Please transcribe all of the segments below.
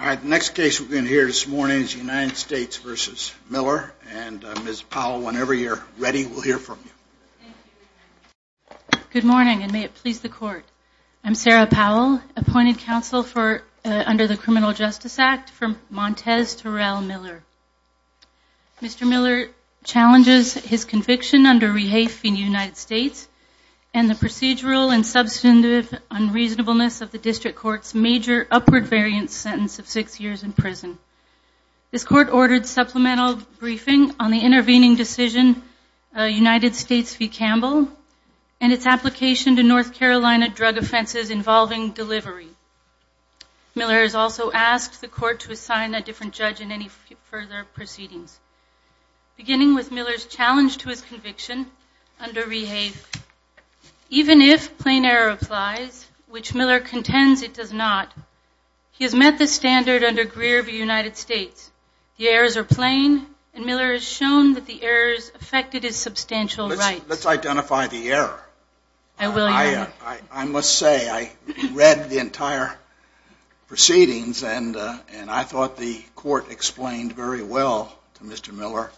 All right, the next case we're going to hear this morning is United States v. Miller, and Ms. Powell, whenever you're ready, we'll hear from you. Good morning, and may it please the Court. I'm Sarah Powell, appointed counsel under the Criminal Justice Act from Montes Terrell Miller. Mr. Miller challenges his conviction under REHAFE in the United States and the procedural and substantive unreasonableness of the District Court's major upward variance sentence of six years in prison. This Court ordered supplemental briefing on the intervening decision, United States v. Campbell, and its application to North Carolina drug offenses involving delivery. Miller has also asked the Court to assign a different judge in any further proceedings. Beginning with Miller's challenge to his conviction under REHAFE, even if plain error applies, which Miller contends it does not, he has met the standard under Greer v. United States. The errors are plain, and Miller has shown that the errors affected his substantial rights. Let's identify the error. I will, Your Honor. I must say, I read the entire proceedings, and I thought the Court explained very well to Mr. Miller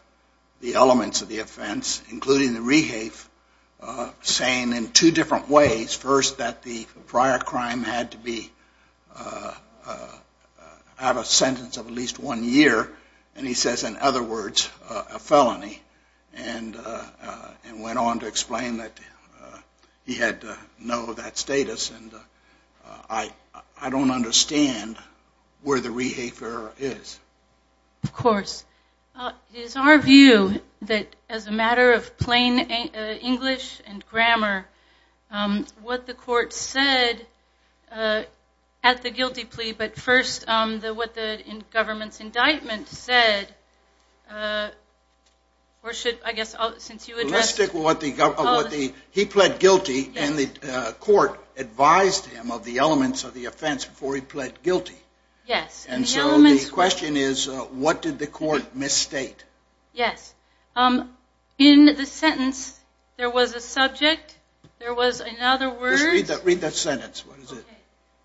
the elements of the offense, including the REHAFE, saying in two different ways. First, that the prior crime had to have a sentence of at least one year, and he says, in other words, a felony, and went on to explain that he had no of that status, and I don't understand where the REHAFE error is. Of course. It is our view that as a matter of plain English and grammar, what the Court said at the guilty plea, but first, what the government's indictment said, or should, I guess, since you addressed... He pled guilty, and the Court advised him of the elements of the offense before he pled guilty. Yes. And so the question is, what did the Court misstate? Yes. In the sentence, there was a subject, there was, in other words... Just read that sentence.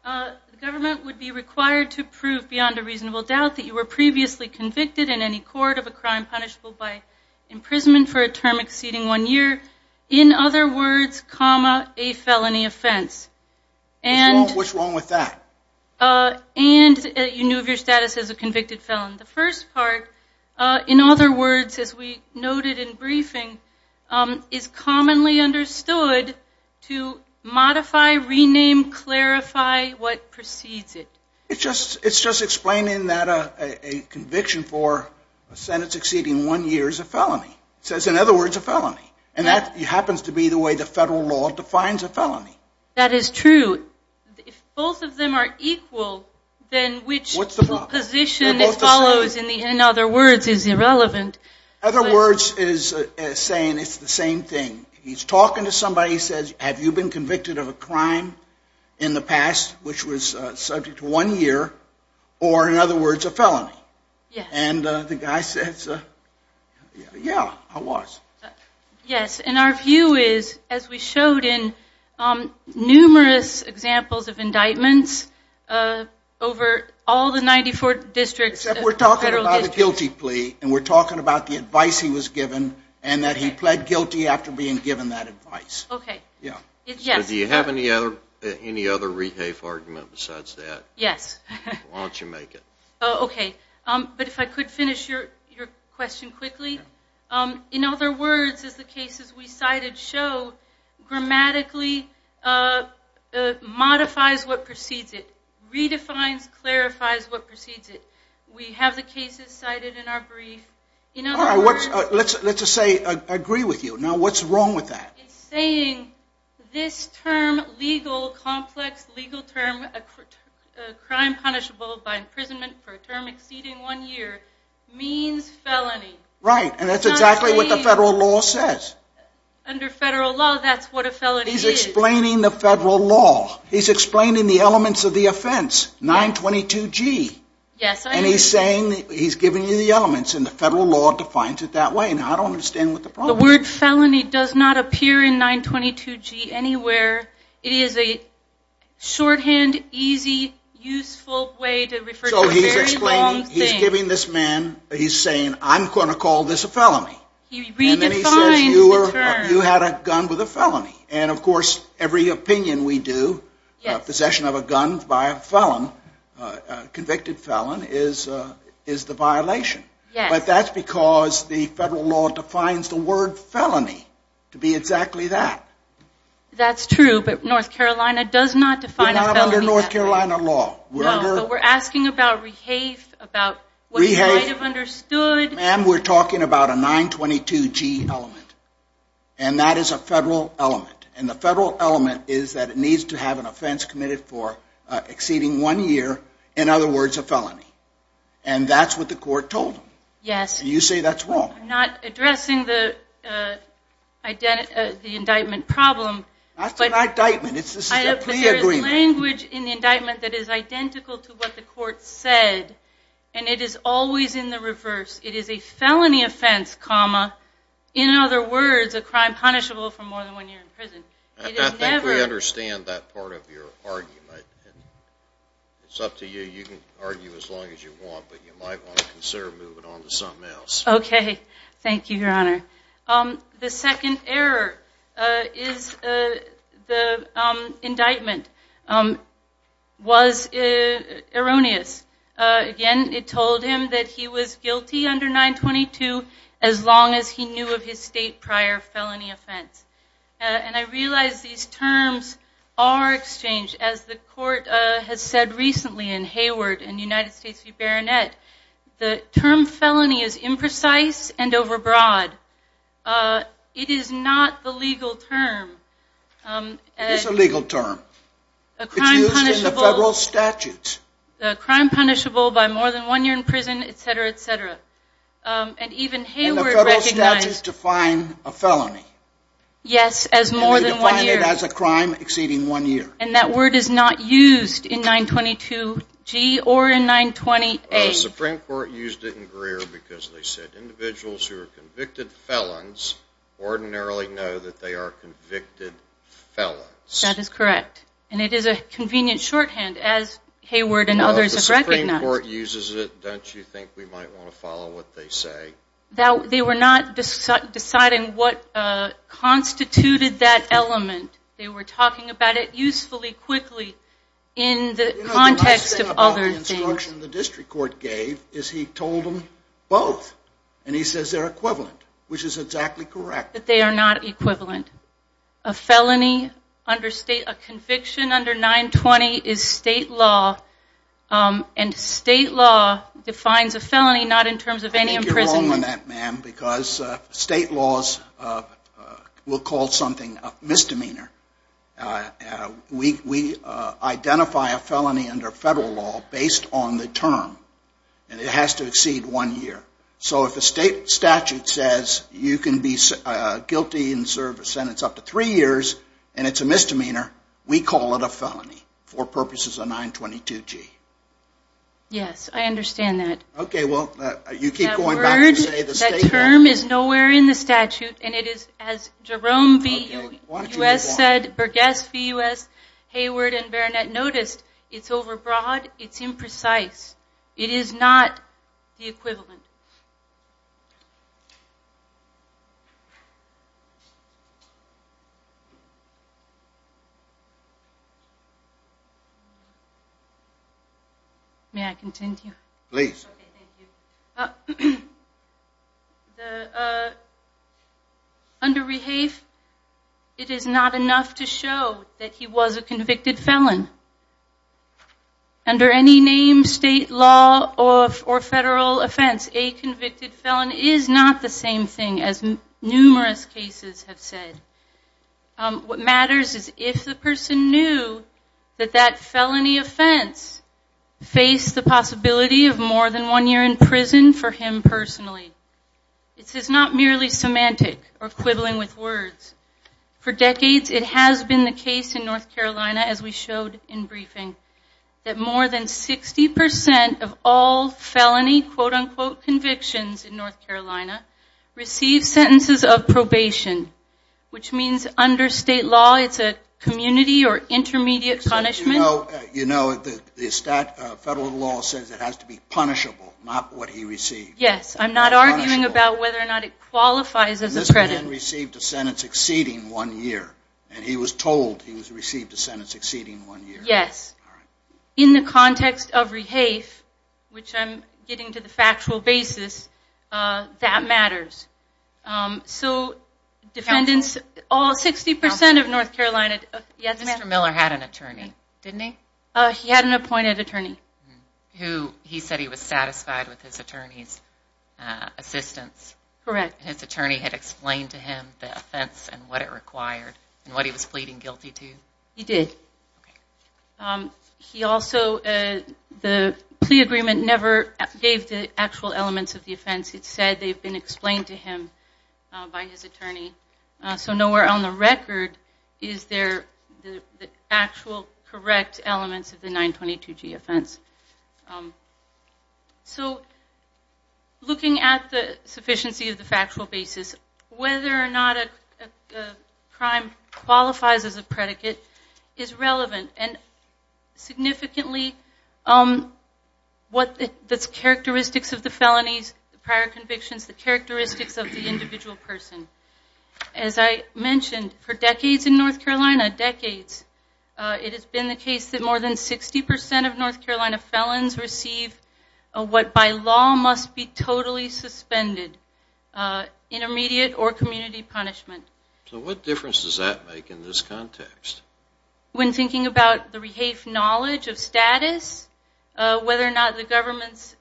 The government would be required to prove beyond a reasonable doubt that you were previously convicted in any court of a crime punishable by imprisonment for a term exceeding one year, in other words, comma, a felony offense. What's wrong with that? And you knew of your status as a convicted felon. The first part, in other words, as we noted in briefing, is commonly understood to modify, rename, clarify what precedes it. It's just explaining that a conviction for a sentence exceeding one year is a felony. It says, in other words, a felony. And that happens to be the way the federal law defines a felony. That is true. If both of them are equal, then which position follows, in other words, is irrelevant. Other words is saying it's the same thing. He's talking to somebody. He says, have you been convicted of a crime in the past which was subject to one year, or in other words, a felony? Yes. And the guy says, yeah, I was. Yes. And our view is, as we showed in numerous examples of indictments over all the 94 districts. Except we're talking about a guilty plea, and we're talking about the advice he was given, and that he pled guilty after being given that advice. Okay. Yeah. So do you have any other rehafe argument besides that? Yes. Why don't you make it? Okay. But if I could finish your question quickly. In other words, as the cases we cited show, grammatically modifies what precedes it, redefines, clarifies what precedes it. We have the cases cited in our brief. All right. Let's just say I agree with you. Now, what's wrong with that? It's saying this term, legal, complex legal term, a crime punishable by imprisonment for a term exceeding one year, means felony. Right. And that's exactly what the federal law says. Under federal law, that's what a felony is. He's explaining the federal law. He's explaining the elements of the offense, 922G. Yes, I agree. And he's saying, he's giving you the elements, and the federal law defines it that way. Now, I don't understand what the problem is. The word felony does not appear in 922G anywhere. It is a shorthand, easy, useful way to refer to a very long thing. He's saying, I'm going to call this a felony. He redefines the term. And then he says, you had a gun with a felony. And, of course, every opinion we do, possession of a gun by a felon, convicted felon, is the violation. Yes. But that's because the federal law defines the word felony to be exactly that. But North Carolina does not define a felony that way. We're not under North Carolina law. No. But we're asking about rehafe, about what you might have understood. Ma'am, we're talking about a 922G element, and that is a federal element. And the federal element is that it needs to have an offense committed for exceeding one year, in other words, a felony. And that's what the court told him. Yes. And you say that's wrong. I'm not addressing the indictment problem. That's an indictment. This is a plea agreement. There is a language in the indictment that is identical to what the court said, and it is always in the reverse. It is a felony offense, comma, in other words, a crime punishable for more than one year in prison. I think we understand that part of your argument. It's up to you. You can argue as long as you want, but you might want to consider moving on to something else. Okay. Thank you, Your Honor. The second error is the indictment was erroneous. Again, it told him that he was guilty under 922 as long as he knew of his state prior felony offense. And I realize these terms are exchanged. As the court has said recently in Hayward and United States v. Baronet, the term felony is imprecise and overbroad. It is not the legal term. It is a legal term. It's used in the federal statutes. A crime punishable by more than one year in prison, et cetera, et cetera. And even Hayward recognized. And the federal statutes define a felony. Yes, as more than one year. And you define it as a crime exceeding one year. And that word is not used in 922G or in 920A. The Supreme Court used it in Greer because they said individuals who are convicted felons ordinarily know that they are convicted felons. That is correct. And it is a convenient shorthand, as Hayward and others have recognized. If the Supreme Court uses it, don't you think we might want to follow what they say? They were not deciding what constituted that element. They were talking about it usefully, quickly in the context of other things. You know, the nice thing about the instruction the district court gave is he told them both. And he says they're equivalent, which is exactly correct. But they are not equivalent. A felony under state, a conviction under 920 is state law. And state law defines a felony not in terms of any imprisonment. Because state laws will call something a misdemeanor. We identify a felony under federal law based on the term. And it has to exceed one year. So if a state statute says you can be guilty and serve a sentence up to three years and it's a misdemeanor, we call it a felony for purposes of 922G. Yes, I understand that. Okay, well, you keep going back to say the state law. That term is nowhere in the statute. And it is, as Jerome B. U.S. said, Burgess B. U.S., Hayward, and Baronet noticed, it's overbroad. It's imprecise. It is not the equivalent. May I continue? Please. Okay, thank you. Under REHAFE, it is not enough to show that he was a convicted felon. Under any name, state law, or federal offense, a convicted felon is not the same thing as numerous cases have said. What matters is if the person knew that that felony offense faced the possibility of more than one year in prison for him personally. It is not merely semantic or quibbling with words. For decades, it has been the case in North Carolina, as we showed in briefing, that more than 60% of all felony quote-unquote convictions in North Carolina receive sentences of probation, which means under state law it's a community or intermediate punishment. You know, the federal law says it has to be punishable, not what he received. Yes, I'm not arguing about whether or not it qualifies as a predicament. This man received a sentence exceeding one year, and he was told he was received a sentence exceeding one year. Yes. In the context of REHAFE, which I'm getting to the factual basis, that matters. So defendants, all 60% of North Carolina... Mr. Miller had an attorney, didn't he? He had an appointed attorney. He said he was satisfied with his attorney's assistance. Correct. His attorney had explained to him the offense and what it required and what he was pleading guilty to? He did. He also, the plea agreement never gave the actual elements of the offense. It said they've been explained to him by his attorney. So nowhere on the record is there the actual correct elements of the 922G offense. So looking at the sufficiency of the factual basis, whether or not a crime qualifies as a predicate is relevant. And significantly, the characteristics of the felonies, the prior convictions, the characteristics of the individual person. As I mentioned, for decades in North Carolina, decades, it has been the case that more than 60% of North Carolina felons receive what by law must be totally suspended, intermediate or community punishment. So what difference does that make in this context? When thinking about the REHAFE knowledge of status, whether or not the government's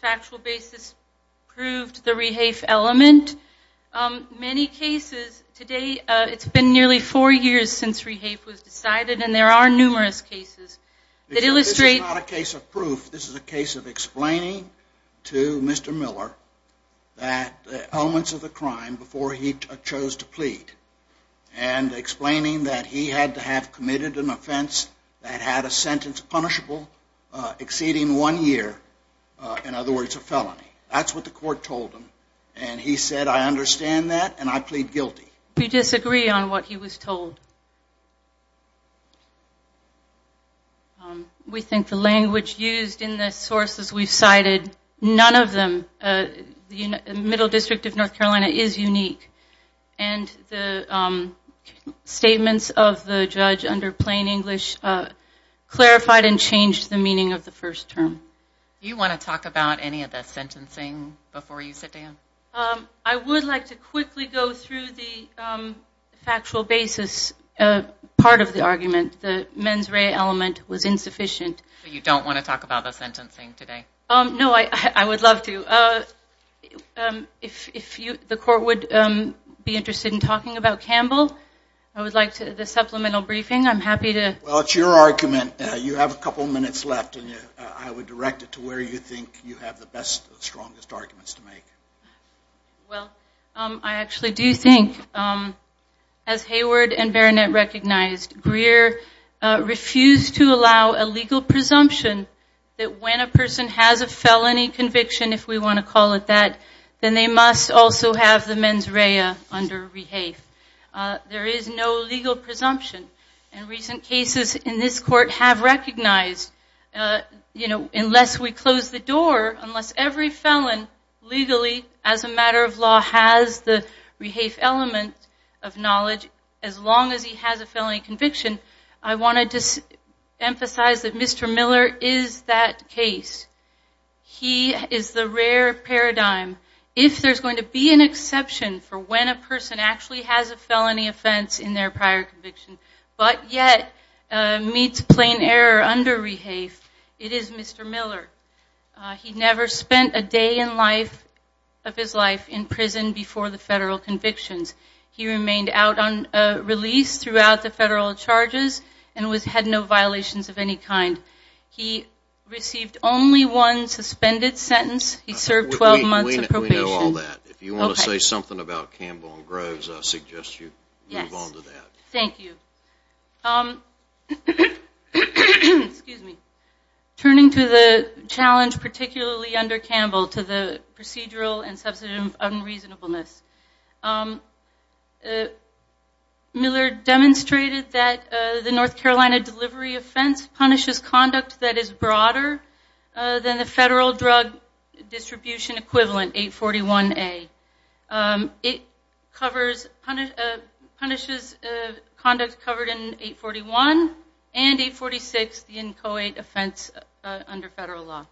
factual basis proved the REHAFE element, many cases today, it's been nearly four years since REHAFE was decided and there are numerous cases that illustrate. This is not a case of proof. This is a case of explaining to Mr. Miller that the elements of the crime before he chose to plead and explaining that he had to have committed an offense that had a sentence punishable exceeding one year, in other words, a felony. That's what the court told him and he said, I understand that and I plead guilty. We disagree on what he was told. We think the language used in the sources we've cited, none of them, the Middle District of North Carolina is unique and the statements of the judge under plain English clarified and changed the meaning of the first term. Do you want to talk about any of the sentencing before you sit down? I would like to quickly go through the factual basis part of the argument. The mens rea element was insufficient. You don't want to talk about the sentencing today? No, I would love to. If the court would be interested in talking about Campbell, I would like the supplemental briefing. I'm happy to. Well, it's your argument. You have a couple minutes left and I would direct it to where you think you have the best, strongest arguments to make. Well, I actually do think, as Hayward and Berenet recognized, Greer refused to allow a legal presumption that when a person has a felony conviction, if we want to call it that, then they must also have the mens rea under rehave. There is no legal presumption. Recent cases in this court have recognized, unless we close the door, unless every felon legally, as a matter of law, has the rehave element of knowledge, as long as he has a felony conviction, I want to emphasize that Mr. Miller is that case. He is the rare paradigm. If there's going to be an exception for when a person actually has a felony offense in their prior conviction, but yet meets plain error under rehave, it is Mr. Miller. He never spent a day of his life in prison before the federal convictions. He remained out on release throughout the federal charges and had no violations of any kind. He received only one suspended sentence. He served 12 months in probation. We know all that. If you want to say something about Campbell and Groves, I suggest you move on to that. Thank you. Turning to the challenge, particularly under Campbell, to the procedural and substantive unreasonableness, Miller demonstrated that the North Carolina delivery offense punishes conduct that is broader than the federal drug distribution equivalent, 841A. It punishes conduct covered in 841 and 846, the inchoate offense under federal law.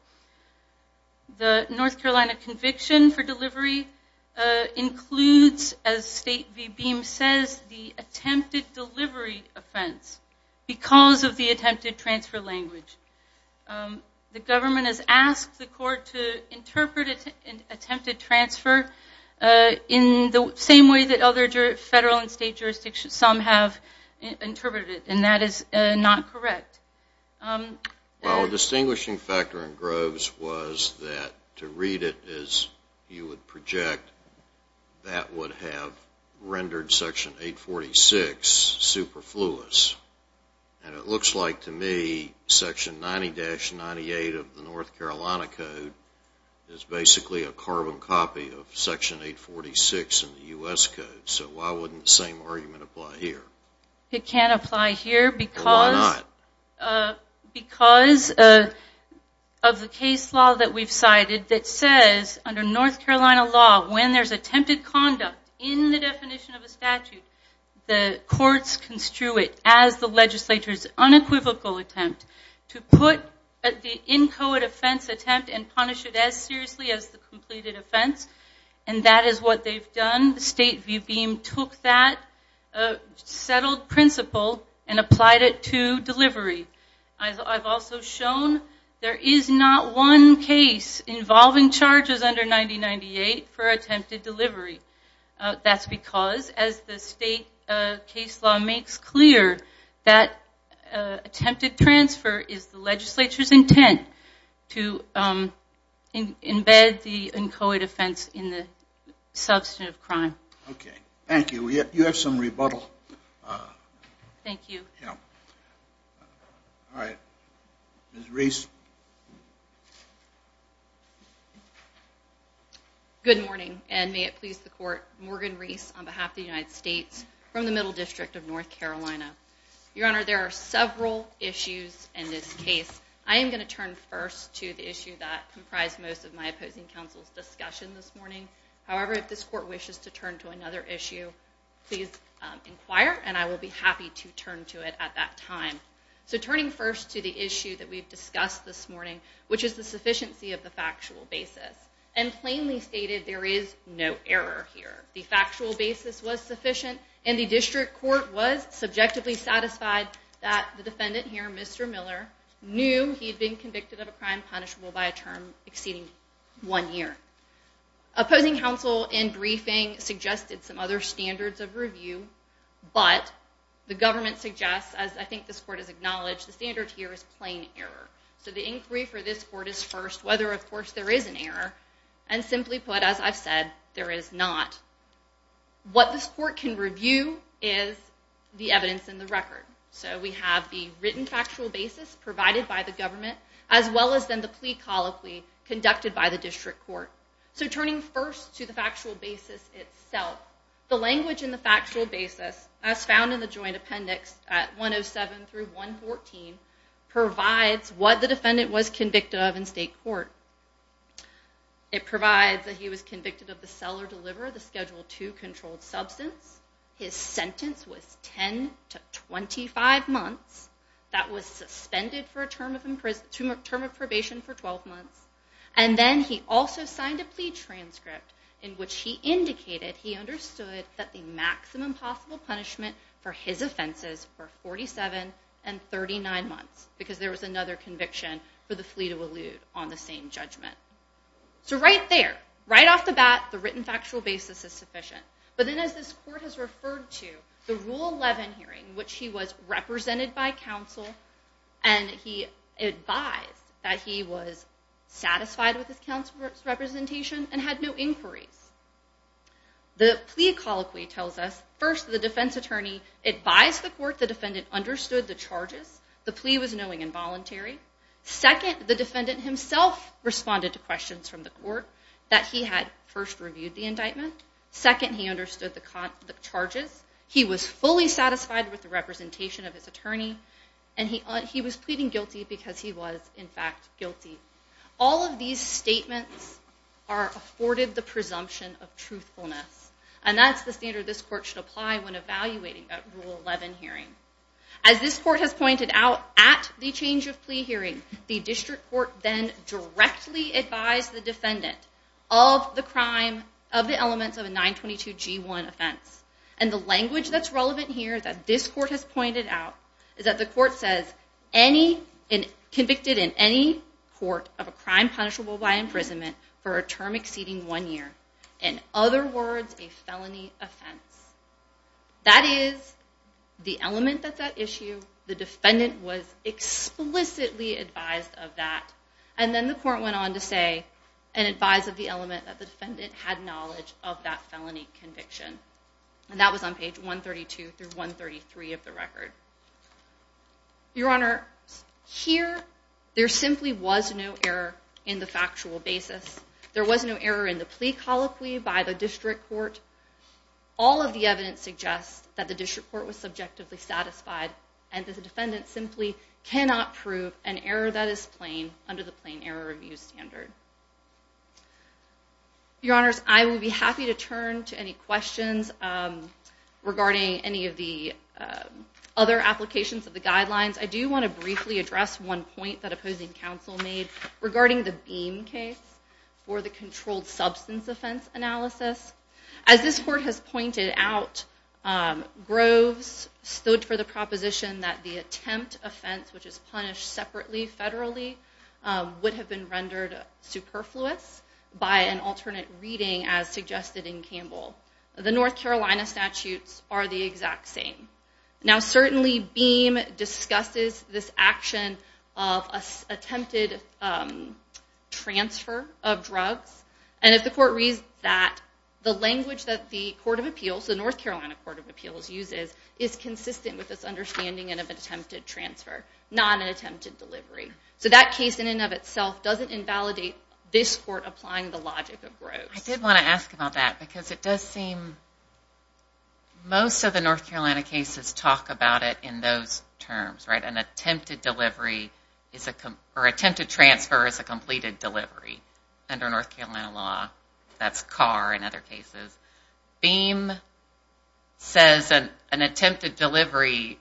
The North Carolina conviction for delivery includes, as State v. Beam says, the attempted delivery offense because of the attempted transfer language. The government has asked the court to interpret an attempted transfer in the same way that other federal and state jurisdictions some have interpreted it, and that is not correct. Well, a distinguishing factor in Groves was that to read it as you would project, that would have rendered Section 846 superfluous. And it looks like to me Section 90-98 of the North Carolina Code is basically a carbon copy of Section 846 in the U.S. Code. So why wouldn't the same argument apply here? It can't apply here because of the case law that we've cited that says, under North Carolina law, when there's attempted conduct in the definition of a statute, the courts construe it as the legislature's unequivocal attempt to put the inchoate offense attempt and punish it as seriously as the completed offense, and that is what they've done. State v. Beam took that settled principle and applied it to delivery. I've also shown there is not one case involving charges under 90-98 for attempted delivery. That's because, as the state case law makes clear, that attempted transfer is the legislature's intent to embed the inchoate offense in the substance of crime. Okay. Thank you. You have some rebuttal. Thank you. All right. Ms. Reese. Good morning, and may it please the Court. Morgan Reese on behalf of the United States from the Middle District of North Carolina. Your Honor, there are several issues in this case. I am going to turn first to the issue that comprised most of my opposing counsel's discussion this morning. However, if this Court wishes to turn to another issue, please inquire, and I will be happy to turn to it at that time. So turning first to the issue that we've discussed this morning, which is the sufficiency of the factual basis. And plainly stated, there is no error here. The factual basis was sufficient, and the District Court was subjectively satisfied that the defendant here, Mr. Miller, knew he had been convicted of a crime punishable by a term exceeding one year. Opposing counsel in briefing suggested some other standards of review, but the government suggests, as I think this Court has acknowledged, the standard here is plain error. So the inquiry for this Court is first whether, of course, there is an error. And simply put, as I've said, there is not. What this Court can review is the evidence in the record. So we have the written factual basis provided by the government, as well as then the plea colloquy conducted by the District Court. So turning first to the factual basis itself, the language in the factual basis, as found in the joint appendix at 107 through 114, provides what the defendant was convicted of in state court. It provides that he was convicted of the sell or deliver of the Schedule II controlled substance, his sentence was 10 to 25 months, that was suspended for a term of probation for 12 months, and then he also signed a plea transcript in which he indicated he understood that the maximum possible punishment for his offenses were 47 and 39 months, because there was another conviction for the flea to elude on the same judgment. So right there, right off the bat, the written factual basis is sufficient. But then as this Court has referred to, the Rule 11 hearing, which he was represented by counsel, and he advised that he was satisfied with his counsel's representation and had no inquiries. The plea colloquy tells us, first, the defense attorney advised the court the defendant understood the charges, the plea was knowing and voluntary. Second, the defendant himself responded to questions from the court that he had first reviewed the indictment. Second, he understood the charges, he was fully satisfied with the representation of his attorney, and he was pleading guilty because he was, in fact, guilty. All of these statements are afforded the presumption of truthfulness, and that's the standard this Court should apply when evaluating that Rule 11 hearing. As this Court has pointed out, at the change of plea hearing, the District Court then directly advised the defendant of the elements of a 922G1 offense. And the language that's relevant here that this Court has pointed out is that the Court says, convicted in any court of a crime punishable by imprisonment for a term exceeding one year, in other words, a felony offense. That is the element that's at issue, the defendant was explicitly advised of that, and then the Court went on to say, and advise of the element that the defendant had knowledge of that felony conviction. And that was on page 132 through 133 of the record. Your Honor, here there simply was no error in the factual basis. There was no error in the plea colloquy by the District Court. All of the evidence suggests that the District Court was subjectively satisfied and that the defendant simply cannot prove an error that is plain under the plain error review standard. Your Honors, I would be happy to turn to any questions regarding any of the other applications of the guidelines. I do want to briefly address one point that opposing counsel made regarding the Beam case for the controlled substance offense analysis. As this Court has pointed out, Groves stood for the proposition that the attempt offense, which is punished separately federally, would have been rendered superfluous by an alternate reading as suggested in Campbell. The North Carolina statutes are the exact same. Now certainly Beam discusses this action of attempted transfer of drugs, and if the Court reads that, the language that the Court of Appeals, the North Carolina Court of Appeals uses, is consistent with this understanding of attempted transfer, not an attempted delivery. So that case, in and of itself, doesn't invalidate this Court applying the logic of Groves. I did want to ask about that because it does seem most of the North Carolina cases talk about it in those terms. An attempted transfer is a completed delivery under North Carolina law. That's CAR in other cases. Beam says an attempted delivery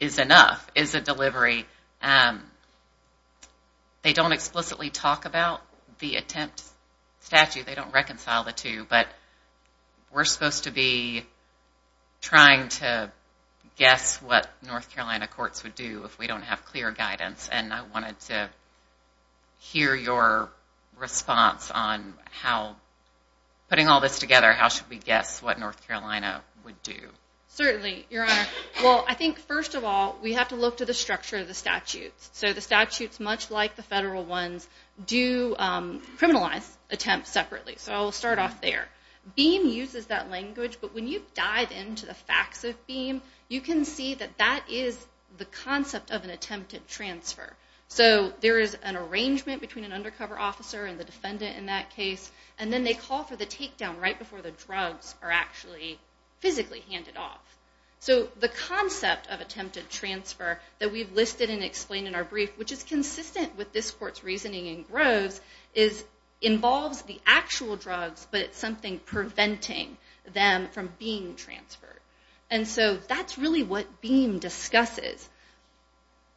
is enough, is a delivery. They don't explicitly talk about the attempt statute. They don't reconcile the two, but we're supposed to be trying to guess what North Carolina courts would do if we don't have clear guidance, and I wanted to hear your response on how, putting all this together, how should we guess what North Carolina would do? Certainly, Your Honor. Well, I think, first of all, we have to look to the structure of the statutes. So the statutes, much like the federal ones, do criminalize attempts separately. So I'll start off there. Beam uses that language, but when you dive into the facts of Beam, you can see that that is the concept of an attempted transfer. So there is an arrangement between an undercover officer and the defendant in that case, and then they call for the takedown right before the drugs are actually physically handed off. So the concept of attempted transfer that we've listed and explained in our brief, which is consistent with this court's reasoning in Groves, involves the actual drugs, but it's something preventing them from being transferred. And so that's really what Beam discusses.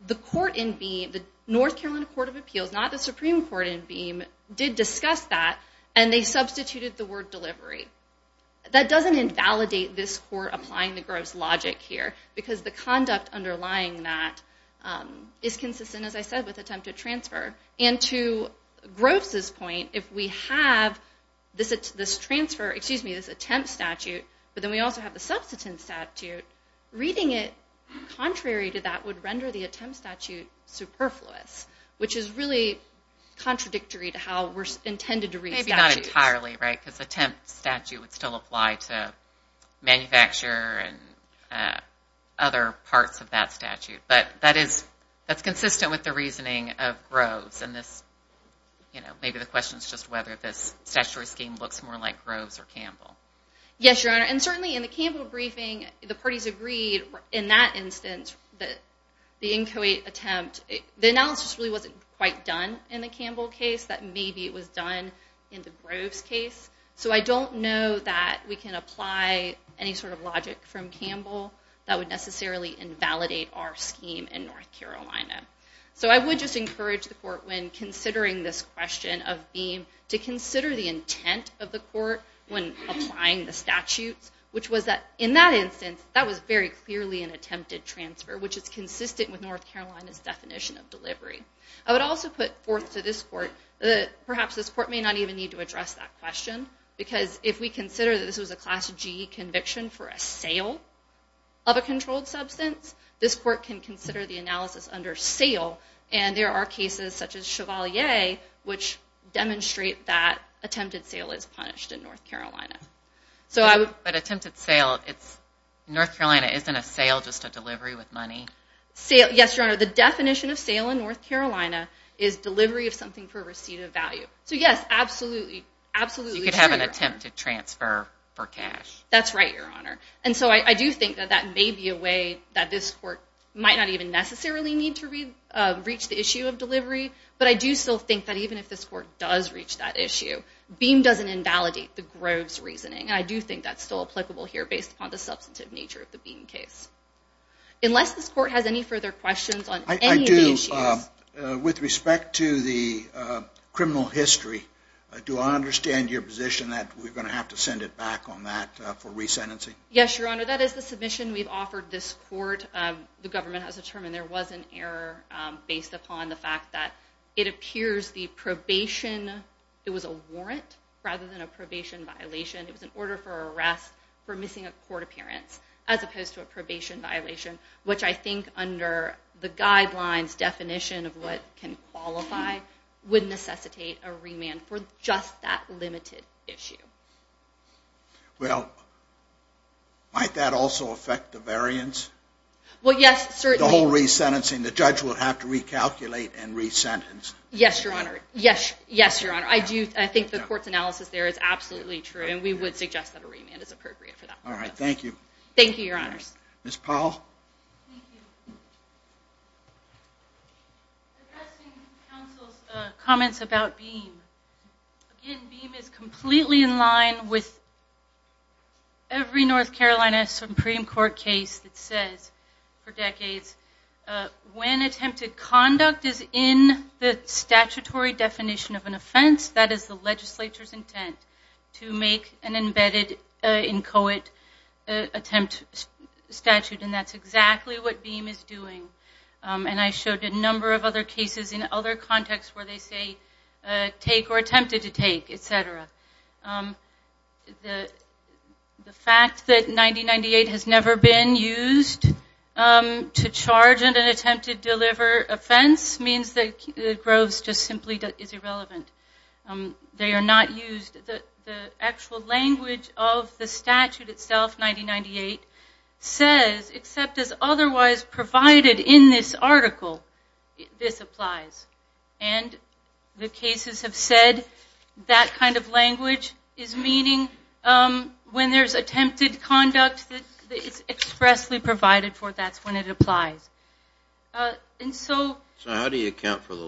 The court in Beam, the North Carolina Court of Appeals, not the Supreme Court in Beam, did discuss that, and they substituted the word delivery. That doesn't invalidate this court applying the Groves logic here, because the conduct underlying that is consistent, as I said, with attempted transfer. And to Groves' point, if we have this transfer, excuse me, this attempt statute, but then we also have the substance statute, reading it contrary to that would render the attempt statute superfluous, which is really contradictory to how we're intended to read statutes. Entirely, right, because the attempt statute would still apply to manufacture and other parts of that statute. But that's consistent with the reasoning of Groves, and maybe the question is just whether this statutory scheme looks more like Groves or Campbell. Yes, Your Honor, and certainly in the Campbell briefing, the parties agreed in that instance that the inchoate attempt, the analysis really wasn't quite done in the Campbell case, that maybe it was done in the Groves case. So I don't know that we can apply any sort of logic from Campbell that would necessarily invalidate our scheme in North Carolina. So I would just encourage the court, when considering this question of BEAM, to consider the intent of the court when applying the statutes, which was that, in that instance, that was very clearly an attempted transfer, which is consistent with North Carolina's definition of delivery. I would also put forth to this court that perhaps this court may not even need to address that question, because if we consider that this was a Class G conviction for a sale of a controlled substance, this court can consider the analysis under sale, and there are cases, such as Chevalier, which demonstrate that attempted sale is punished in North Carolina. But attempted sale, North Carolina isn't a sale, just a delivery with money. Yes, Your Honor. The definition of sale in North Carolina is delivery of something for a receipt of value. So yes, absolutely. So you could have an attempted transfer for cash. That's right, Your Honor. And so I do think that that may be a way that this court might not even necessarily need to reach the issue of delivery, but I do still think that even if this court does reach that issue, BEAM doesn't invalidate the Groves reasoning, and I do think that's still applicable here based upon the substantive nature of the BEAM case. Unless this court has any further questions on any of these issues... I do. With respect to the criminal history, do I understand your position that we're going to have to send it back on that for resentencing? Yes, Your Honor, that is the submission we've offered this court. The government has determined there was an error based upon the fact that it appears the probation, it was a warrant rather than a probation violation. It was an order for arrest for missing a court appearance, as opposed to a probation violation, which I think under the guidelines definition of what can qualify, would necessitate a remand for just that limited issue. Well, might that also affect the variance? Well, yes, certainly. The whole resentencing, the judge will have to recalculate and resentence. Yes, Your Honor. Yes, Your Honor. I think the court's analysis there is absolutely true, and we would suggest that a remand is appropriate for that. All right, thank you. Thank you, Your Honors. Ms. Powell? Thank you. Addressing counsel's comments about BEAM. Again, BEAM is completely in line with every North Carolina Supreme Court case that says, for decades, when attempted conduct is in the statutory definition of an offense, that is the legislature's intent to make an embedded inchoate attempt statute, and that's exactly what BEAM is doing. And I showed a number of other cases in other contexts where they say take or attempted to take, et cetera. The fact that 9098 has never been used to charge an attempted deliver offense means that Groves just simply is irrelevant. They are not used. The actual language of the statute itself, 9098, says except as otherwise provided in this article, this applies. And the cases have said that kind of language is meaning when there's attempted conduct that it's expressly provided for, that's when it applies. So how do you account for the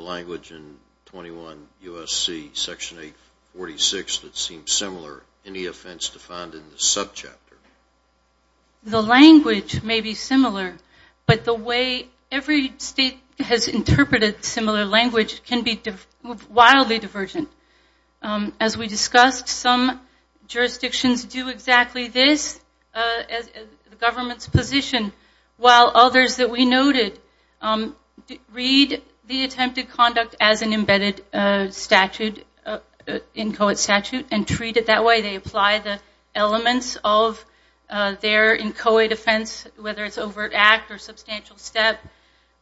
C, section 846, that seems similar in the offense defined in the subchapter? The language may be similar, but the way every state has interpreted similar language can be wildly divergent. As we discussed, some jurisdictions do exactly this, the government's position, while others that we noted read the attempted conduct as an embedded statute, inchoate statute, and treat it that way. They apply the elements of their inchoate offense, whether it's overt act or substantial step.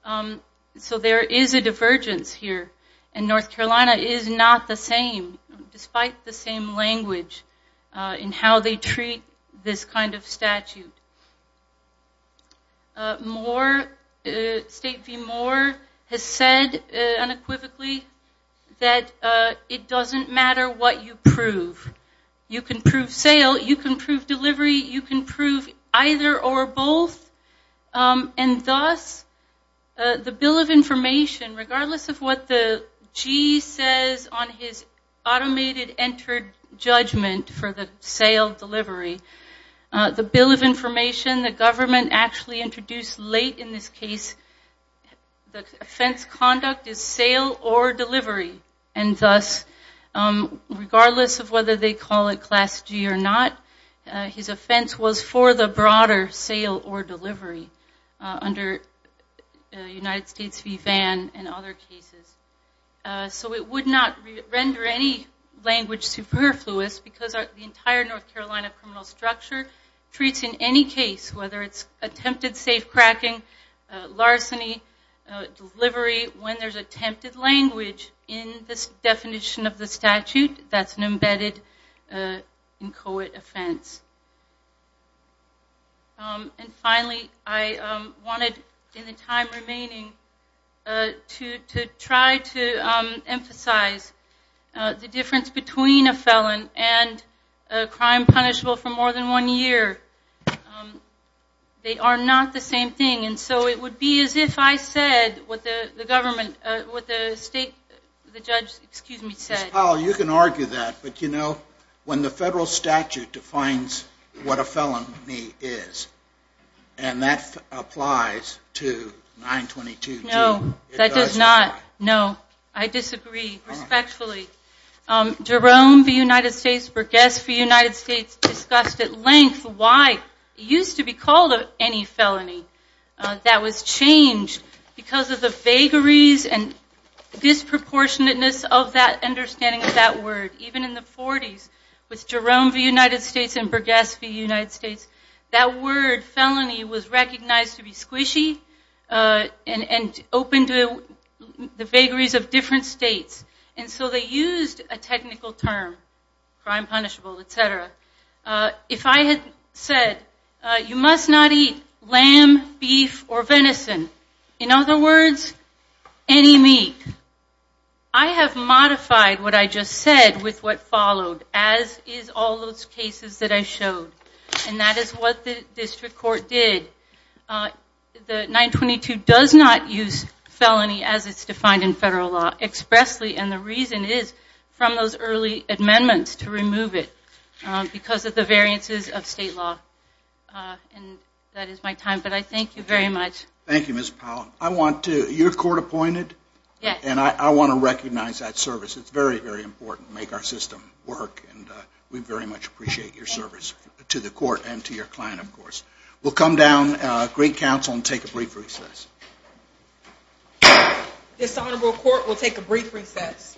So there is a divergence here, and North Carolina is not the same, despite the same language in how they treat this kind of statute. Moore, State v. Moore, has said unequivocally that it doesn't matter what you prove. You can prove sale, you can prove delivery, you can prove either or both, and thus the bill of information, regardless of what the G says on his automated entered judgment for the sale delivery, the bill of information the government actually introduced late in this case, the offense conduct is sale or delivery, and thus regardless of whether they call it class G or not, his offense was for the broader sale or delivery under United States v. Vann and other cases. So it would not render any language superfluous because the entire North Carolina criminal structure treats in any case, whether it's attempted safe cracking, larceny, delivery, when there's attempted language in this definition of the statute, that's an embedded inchoate offense. And finally, I wanted, in the time remaining, to try to emphasize the difference between a felon and a crime punishable for more than one year. They are not the same thing. And so it would be as if I said what the state judge said. Ms. Powell, you can argue that, but you know when the federal statute defines what a felony is, and that applies to 922G, it does not. No, I disagree respectfully. Jerome v. United States v. Burgess v. United States discussed at length why it used to be called any felony. That was changed because of the vagaries and disproportionate-ness of that understanding of that word. Even in the 40s, with Jerome v. United States and Burgess v. United States, that word felony was recognized to be squishy and open to the vagaries of different states. And so they used a technical term, crime punishable, etc. If I had said you must not eat lamb, beef, or venison, in other words, any meat, I have modified what I just said with what followed, as is all those cases that I showed. And that is what the district court did. The 922 does not use felony as it's defined in federal law expressly, and the reason is from those early amendments to remove it because of the variances of state law. And that is my time, but I thank you very much. Thank you, Ms. Powell. I want to, you're court-appointed? Yes. And I want to recognize that service. It's very, very important to make our system work, and we very much appreciate your service to the court and to your client, of course. We'll come down, great counsel, and take a brief recess. This honorable court will take a brief recess.